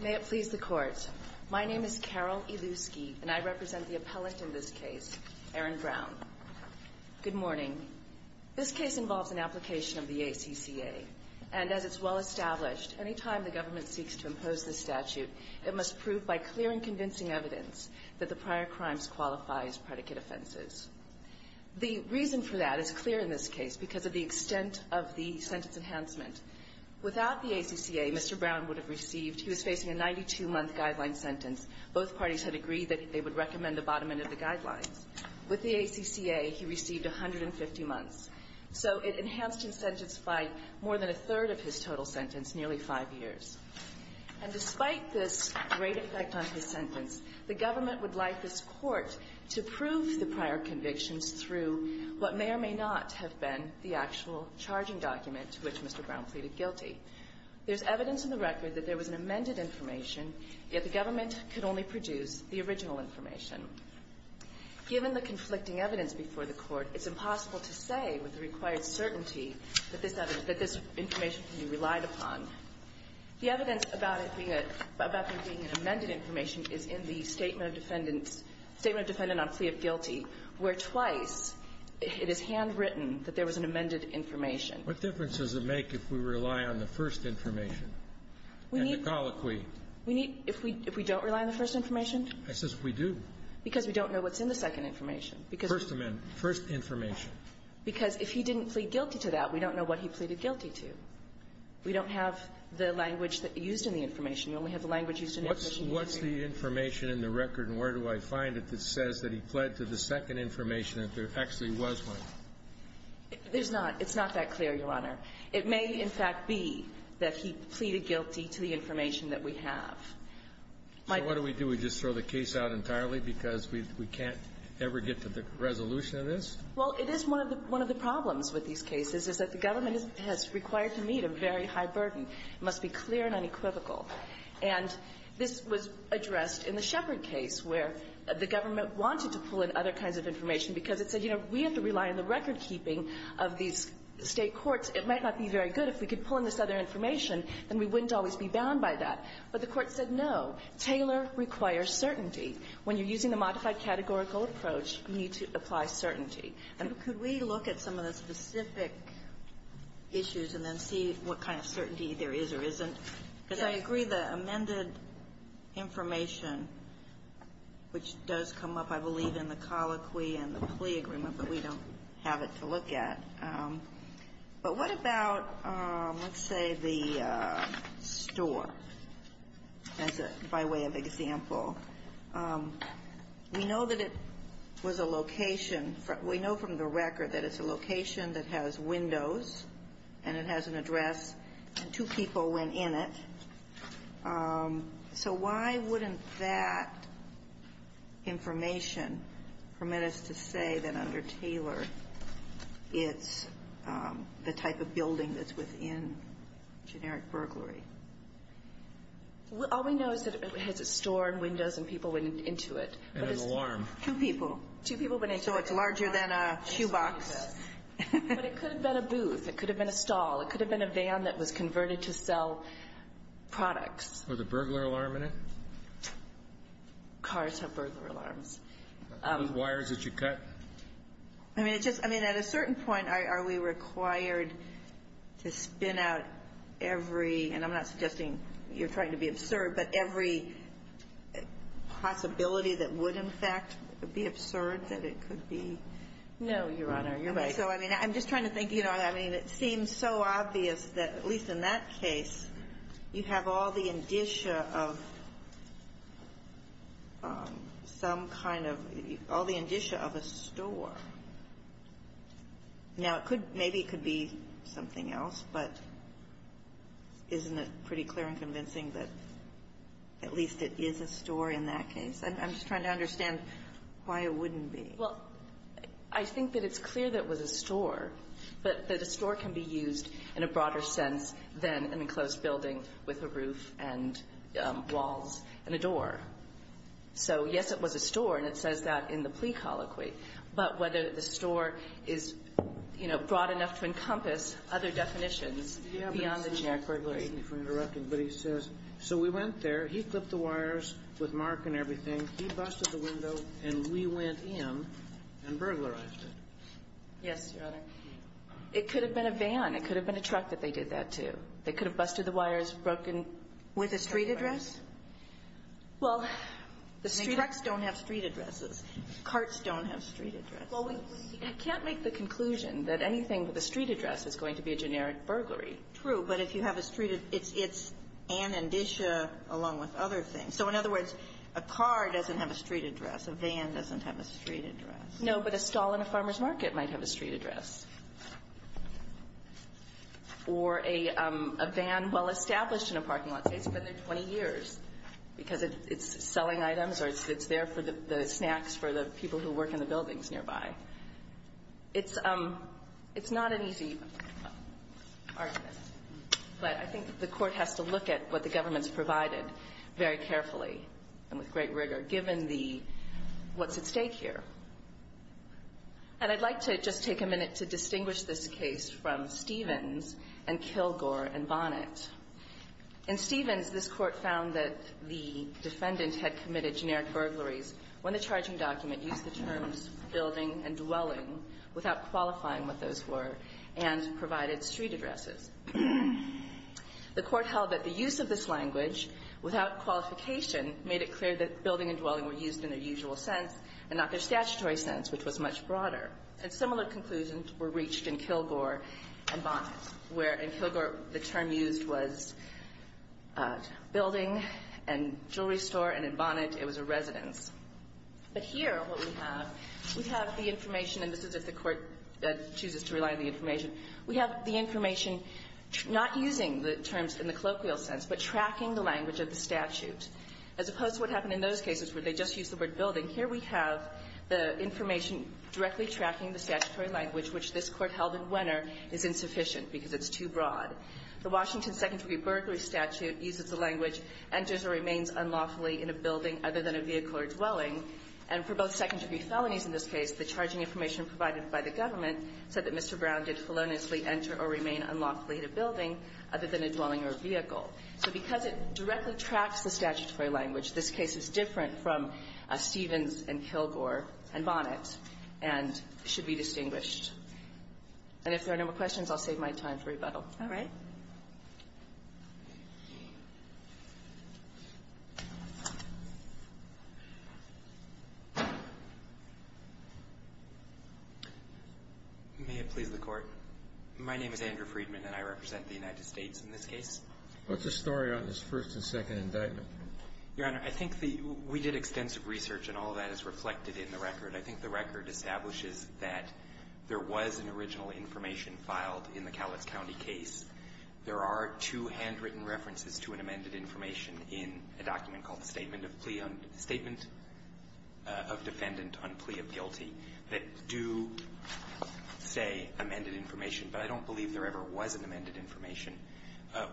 May it please the Court. My name is Carol Ilusky, and I represent the appellant in this case, Aaron Brown. Good morning. This case involves an application of the ACCA, and as it's well established, any time the government seeks to impose this statute, it must prove by clear and convincing evidence that the prior crimes qualify as predicate offenses. The reason for that is clear in this case because of the extent of the sentence enhancement. Without the ACCA, Mr. Brown would have received – he was facing a 92-month guideline sentence. Both parties had agreed that they would recommend the bottom end of the guidelines. With the ACCA, he received 150 months. So it enhanced his sentence by more than a third of his total sentence, nearly five years. And despite this great effect on his sentence, the government would like this Court to prove the prior convictions through what may or may not have been the actual charging document to which Mr. Brown pleaded guilty. There's evidence in the record that there was an amended information, yet the government could only produce the original information. Given the conflicting evidence before the Court, it's impossible to say with the required certainty that this information can be relied upon. The evidence about it being a – about it being a defendant on plea of guilty where twice it is handwritten that there was an amended information. What difference does it make if we rely on the first information and the colloquy? We need – we need – if we don't rely on the first information? I says we do. Because we don't know what's in the second information. Because – First – first information. Because if he didn't plead guilty to that, we don't know what he pleaded guilty to. We don't have the language that – used in the information. We only have the language used in the information. What's – what's the information in the record and where do I find it that says that he pled to the second information if there actually was one? There's not – it's not that clear, Your Honor. It may, in fact, be that he pleaded guilty to the information that we have. So what do we do? We just throw the case out entirely because we can't ever get to the resolution of this? Well, it is one of the – one of the problems with these cases is that the government has required to meet a very high burden. It must be clear and unequivocal. And this was addressed in the Shepard case where the government wanted to pull in other kinds of information because it said, you know, we have to rely on the recordkeeping of these State courts. It might not be very good if we could pull in this other information, then we wouldn't always be bound by that. But the Court said no. Taylor requires certainty. When you're using the modified categorical approach, you need to apply certainty. Could we look at some of the specific issues and then see what kind of certainty there is or isn't? Yes. Because I agree the amended information, which does come up, I believe, in the colloquy and the plea agreement, but we don't have it to look at. But what about, let's say, the store, by way of example? We know that it was a location. We know from the record that it's a location that has windows and it has an address and two people went in it. So why wouldn't that information permit us to say that under Taylor it's the type of building that's within generic burglary? All we know is that it has a store and windows and people went into it. And an alarm. Two people. Two people went into it. So it's larger than a shoebox. But it could have been a booth. It could have been a stall. It could have been a van that was converted to sell products. Was a burglar alarm in it? Cars have burglar alarms. Those wires that you cut? I mean, at a certain point, are we required to spin out every, and I'm not suggesting you're trying to be absurd, but every possibility that would, in fact, be absurd that it could be? No, Your Honor. You're right. So, I mean, I'm just trying to think. I mean, it seems so obvious that, at least in that case, you have all the indicia of some kind of, all the indicia of a store. Now, it could, maybe it could be something else, but isn't it pretty clear and convincing that at least it is a store in that case? I'm just trying to understand why it wouldn't be. Well, I think that it's clear that it was a store, but that a store can be used in a and a door. So, yes, it was a store, and it says that in the plea colloquy, but whether the store is, you know, broad enough to encompass other definitions beyond the generic burglary. But he says, so we went there, he clipped the wires with mark and everything, he busted the window, and we went in and burglarized it. Yes, Your Honor. It could have been a van. It could have been a truck that they did that to. They could have busted the wires, broken. With a street address? Well, the street. Trucks don't have street addresses. Carts don't have street addresses. Well, we can't make the conclusion that anything with a street address is going to be a generic burglary. True, but if you have a street, it's an indicia along with other things. So, in other words, a car doesn't have a street address. A van doesn't have a street address. No, but a stall in a farmer's market might have a street address. Or a van well-established in a parking lot. It's been there 20 years because it's selling items or it's there for the snacks for the people who work in the buildings nearby. It's not an easy argument, but I think the court has to look at what the government has provided very carefully and with great rigor, given what's at stake here. And I'd like to just take a minute to distinguish this case from Stevens and Kilgore and Bonnet. In Stevens, this court found that the defendant had committed generic burglaries when the charging document used the terms building and dwelling without qualifying what those were and provided street addresses. The court held that the use of this language without qualification made it clear that building and dwelling were used in their usual sense and not their statutory sense, which was much broader. And similar conclusions were reached in Kilgore and Bonnet, where in Kilgore, the term used was building and jewelry store, and in Bonnet, it was a residence. But here, what we have, we have the information, and this is if the court chooses to rely on the information, we have the information not using the terms in the colloquial sense, but tracking the language of the statute. As opposed to what happened in those cases where they just used the word building, here we have the information directly tracking the statutory language, which this Court held in Wenner is insufficient because it's too broad. The Washington second-degree burglary statute uses the language, enters or remains unlawfully in a building other than a vehicle or dwelling. And for both second-degree felonies in this case, the charging information provided by the government said that Mr. Brown did feloniously enter or remain in a dwelling or vehicle. So because it directly tracks the statutory language, this case is different from Stevens and Kilgore and Bonnet and should be distinguished. And if there are no more questions, I'll save my time for rebuttal. All right. May it please the Court. My name is Andrew Friedman, and I represent the United States in this case. What's the story on this first and second indictment? Your Honor, I think the we did extensive research, and all of that is reflected in the record. I think the record establishes that there was an original information filed in the Cowlitz County case. There are two handwritten references to an amended information in a document called the Statement of Defendant on Plea of Guilty that do say amended information but I don't believe there ever was an amended information.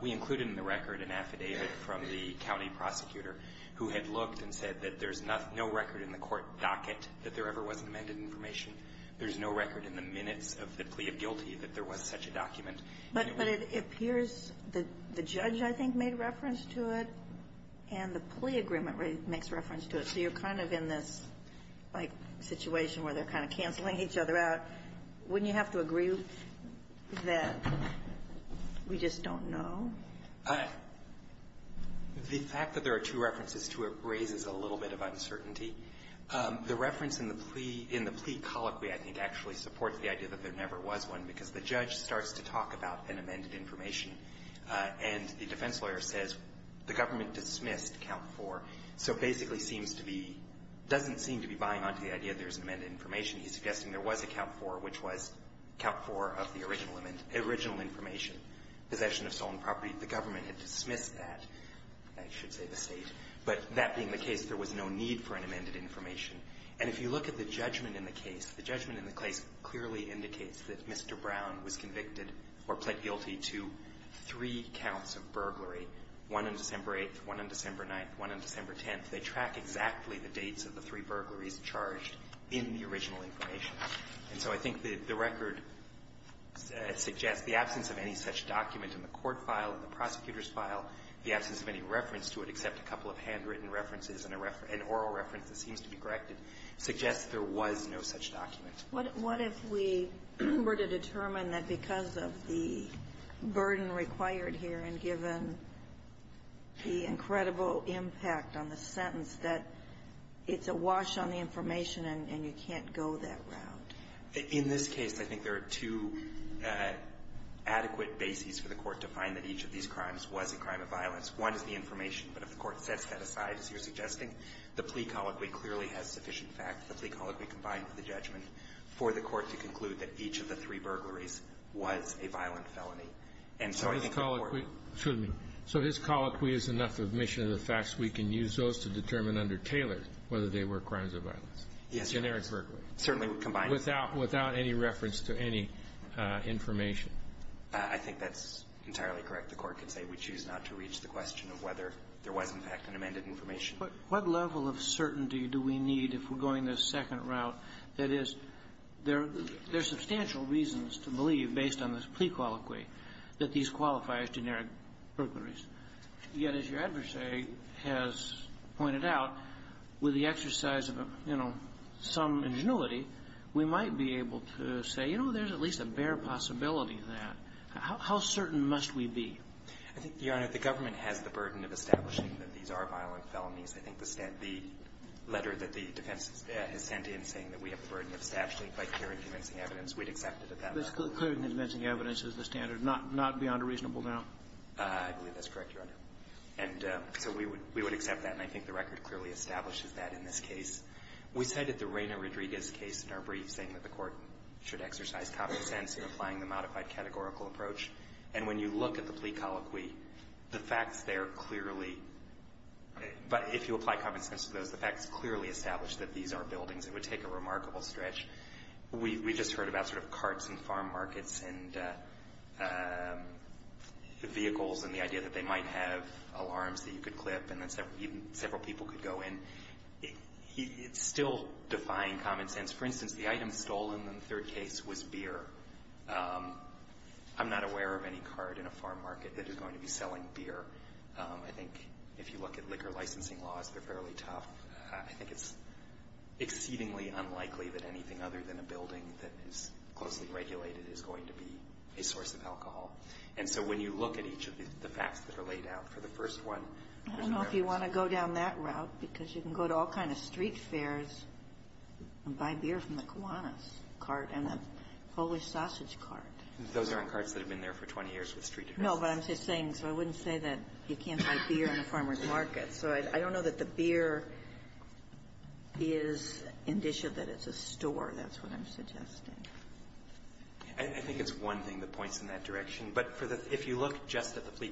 We included in the record an affidavit from the county prosecutor who had looked and said that there's no record in the court docket that there ever was an amended information. There's no record in the minutes of the plea of guilty that there was such a document. But it appears that the judge, I think, made reference to it, and the plea agreement makes reference to it. So you're kind of in this, like, situation where they're kind of canceling each other out. Wouldn't you have to agree that we just don't know? The fact that there are two references to it raises a little bit of uncertainty. The reference in the plea colloquy, I think, actually supports the idea that there never was one, because the judge starts to talk about an amended information, and the defense lawyer says the government dismissed count four. So basically seems to be, doesn't seem to be buying onto the idea that there's an amended information. He's suggesting there was a count four, which was count four of the original information. Possession of stolen property, the government had dismissed that. I should say the State. But that being the case, there was no need for an amended information. And if you look at the judgment in the case, the judgment in the case clearly indicates that Mr. Brown was convicted or pled guilty to three counts of burglary, one on December 8th, one on December 9th, one on December 10th. They track exactly the dates of the three burglaries charged in the original information. And so I think the record suggests the absence of any such document in the court file, in the prosecutor's file, the absence of any reference to it except a couple of handwritten references and an oral reference that seems to be corrected, suggests there was no such document. What if we were to determine that because of the burden required here and given the incredible impact on the sentence, that it's a wash on the information and you can't go that route? In this case, I think there are two adequate bases for the Court to find that each of these crimes was a crime of violence. One is the information. But if the Court sets that aside, as you're suggesting, the plea colloquy clearly has sufficient facts, the plea colloquy combined with the judgment, for the Court to conclude that each of the three burglaries was a violent felony. And so I think the Court So his colloquy is enough admission of the facts we can use those to determine under Taylor whether they were crimes of violence? Yes, Your Honor. And Eric Berkley? Certainly combined. Without any reference to any information? I think that's entirely correct. The Court can say we choose not to reach the question of whether there was, in fact, an amended information. But what level of certainty do we need if we're going the second route? That is, there are substantial reasons to believe, based on this plea colloquy, that these qualify as generic burglaries. Yet, as your adversary has pointed out, with the exercise of, you know, some ingenuity, we might be able to say, you know, there's at least a bare possibility of that. How certain must we be? I think, Your Honor, the government has the burden of establishing that these are violent felonies. I think the letter that the defense has sent in saying that we have the burden of establishing by clear and convincing evidence, we'd accept it at that level. It's clear and convincing evidence is the standard, not beyond a reasonable doubt? I believe that's correct, Your Honor. And so we would accept that. And I think the record clearly establishes that in this case. We cited the Reyna Rodriguez case in our brief, saying that the Court should exercise common sense in applying the modified categorical approach. And when you look at the plea colloquy, the facts there clearly, if you apply common sense to those, the facts clearly establish that these are buildings. It would take a remarkable stretch. We just heard about sort of carts and farm markets and vehicles and the idea that they might have alarms that you could clip and that several people could go in. It's still defying common sense. For instance, the item stolen in the third case was beer. I'm not aware of any cart in a farm market that is going to be selling beer. I think if you look at liquor licensing laws, they're fairly tough. I think it's exceedingly unlikely that anything other than a building that is closely regulated is going to be a source of alcohol. And so when you look at each of the facts that are laid out for the first one, there's no evidence. I would go down that route because you can go to all kind of street fairs and buy beer from the Kiwanis cart and the Polish sausage cart. Those aren't carts that have been there for 20 years with street addresses. No, but I'm just saying, so I wouldn't say that you can't buy beer in a farm market. So I don't know that the beer is indicia that it's a store. That's what I'm suggesting. I think it's one thing that points in that direction. But if you look just at the plea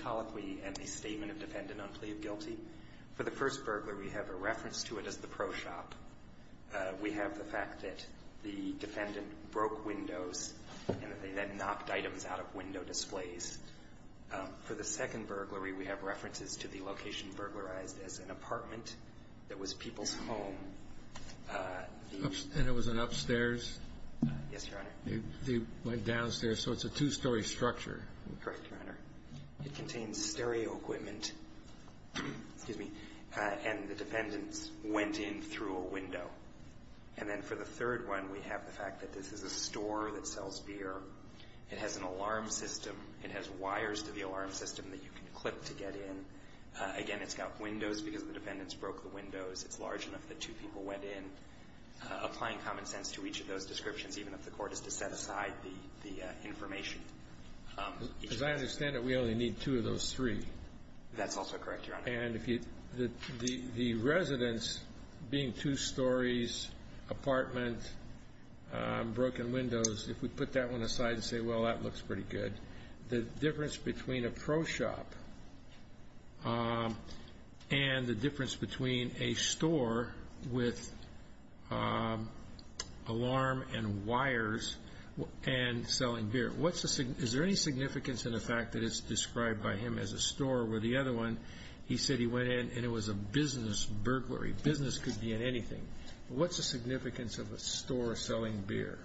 colloquy and the statement of defendant on plea of guilty, for the first burglary, we have a reference to it as the pro shop. We have the fact that the defendant broke windows and that they then knocked items out of window displays. For the second burglary, we have references to the location burglarized as an apartment that was people's home. And it was an upstairs? Yes, Your Honor. They went downstairs, so it's a two-story structure. Correct, Your Honor. It contains stereo equipment, and the defendants went in through a window. And then for the third one, we have the fact that this is a store that sells beer. It has an alarm system. It has wires to the alarm system that you can clip to get in. Again, it's got windows because the defendants broke the windows. It's large enough that two people went in. I'm not applying common sense to each of those descriptions, even if the Court is to set aside the information. As I understand it, we only need two of those three. That's also correct, Your Honor. And if you – the residence being two stories, apartment, broken windows, if we put that one aside and say, well, that looks pretty good, the difference between a pro shop and the difference between a store with alarm and wires and selling beer. What's the – is there any significance in the fact that it's described by him as a store where the other one he said he went in and it was a business burglary? Business could be in anything. What's the significance of a store selling beer?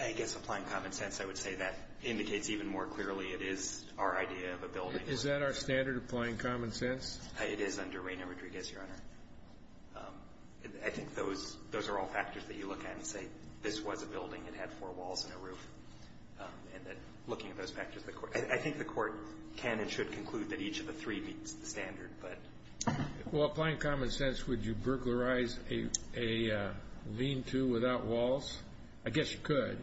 I guess applying common sense, I would say that indicates even more clearly it is our idea of a building. Is that our standard, applying common sense? It is under Reyna Rodriguez, Your Honor. I think those are all factors that you look at and say, this was a building. It had four walls and a roof. And looking at those factors, I think the Court can and should conclude that each of the three meets the standard. Well, applying common sense, would you burglarize a lean-to without walls? I guess you could.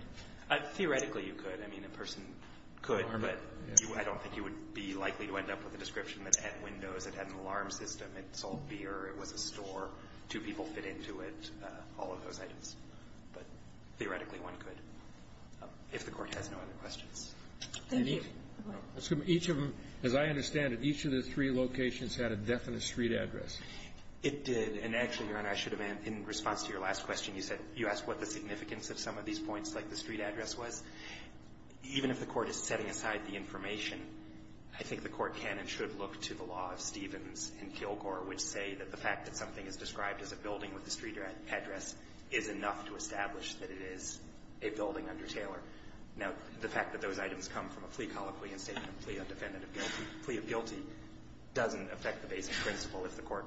Theoretically, you could. I mean, a person could, but I don't think you would be likely to end up with a description that it had windows, it had an alarm system, it sold beer, it was a store, two people fit into it, all of those items. But theoretically, one could, if the Court has no other questions. Thank you. So each of them, as I understand it, each of the three locations had a definite street address. It did. And actually, Your Honor, I should have, in response to your last question, you said you asked what the significance of some of these points like the street address was. Even if the Court is setting aside the information, I think the Court can and should look to the law of Stevens and Kilgore, which say that the fact that something is described as a building with a street address is enough to establish that it is a building under Taylor. Now, the fact that those items come from a plea colloquy and statement of plea, a defendant of guilty, plea of guilty, doesn't affect the basic principle. If the Court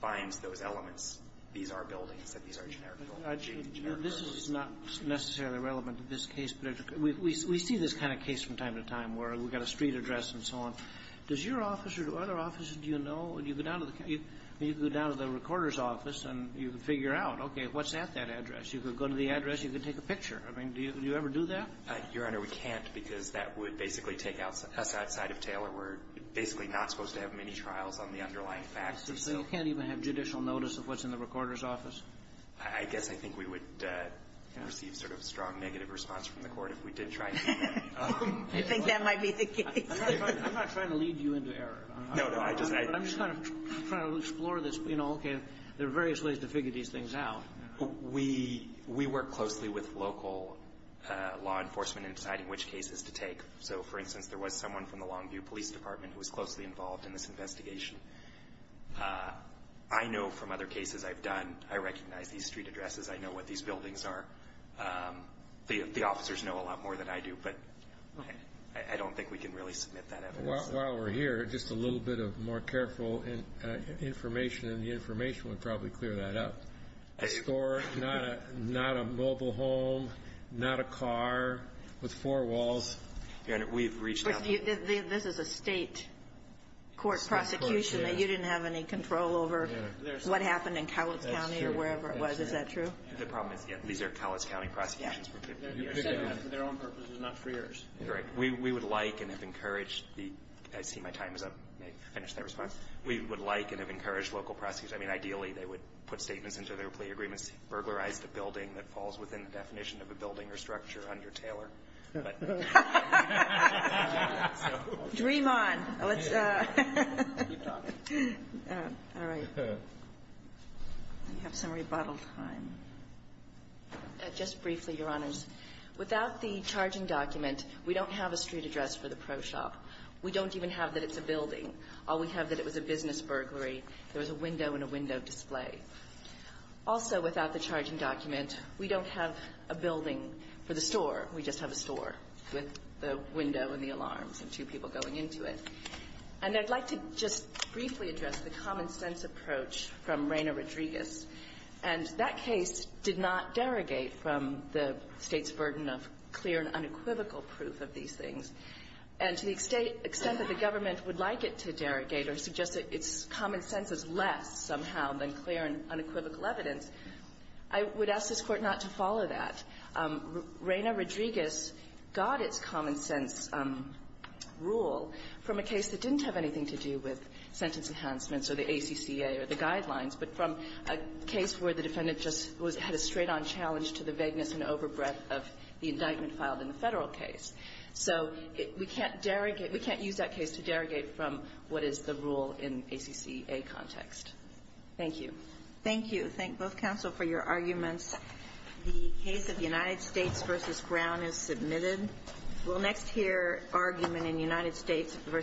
finds those elements, these are buildings, that these are generic buildings. This is not necessarily relevant to this case, but we see this kind of case from time to time where we've got a street address and so on. Does your office or do other offices, do you know? You go down to the recorder's office and you can figure out, okay, what's at that address? You could go to the address. You could take a picture. I mean, do you ever do that? Your Honor, we can't because that would basically take us outside of Taylor. We're basically not supposed to have many trials on the underlying facts. So you can't even have judicial notice of what's in the recorder's office? I guess I think we would receive sort of a strong negative response from the Court if we did try to do that. You think that might be the case. I'm not trying to lead you into error. No, no. I'm just kind of trying to explore this. You know, okay, there are various ways to figure these things out. We work closely with local law enforcement in deciding which cases to take. So, for instance, there was someone from the Longview Police Department who was closely involved in this investigation. I know from other cases I've done, I recognize these street addresses. I know what these buildings are. The officers know a lot more than I do, but I don't think we can really submit that evidence. While we're here, just a little bit of more careful information, and the information would probably clear that up. A store, not a mobile home, not a car with four walls. We've reached out. This is a state court prosecution that you didn't have any control over what happened in Cowles County or wherever it was. Is that true? These are Cowles County prosecutions. For their own purposes, not for yours. Right. We would like and have encouraged the – I see my time is up. May I finish that response? We would like and have encouraged local prosecutors – I mean, ideally, they would put statements into their plea agreements, burglarize the building that falls within the definition of a building or structure under Taylor. Dream on. Let's keep talking. All right. We have some rebuttal time. Just briefly, Your Honors. Without the charging document, we don't have a street address for the pro shop. We don't even have that it's a building. All we have that it was a business burglary. There was a window and a window display. Also, without the charging document, we don't have a building for the store. We just have a store with the window and the alarms and two people going into it. And I'd like to just briefly address the common-sense approach from Reyna Rodriguez. And that case did not derogate from the State's burden of clear and unequivocal proof of these things. And to the extent that the government would like it to derogate or suggest that its common sense is less, somehow, than clear and unequivocal evidence, I would ask this Court not to follow that. Reyna Rodriguez got its common-sense rule from a case that didn't have anything to do with sentence enhancements or the ACCA or the guidelines, but from a case where the defendant just had a straight-on challenge to the vagueness and overbreath of the indictment filed in the Federal case. So we can't use that case to derogate from what is the rule in ACCA context. Thank you. Thank you. Thank both counsel for your arguments. The case of United States v. Brown is submitted. We'll next hear argument in United States v. Brown.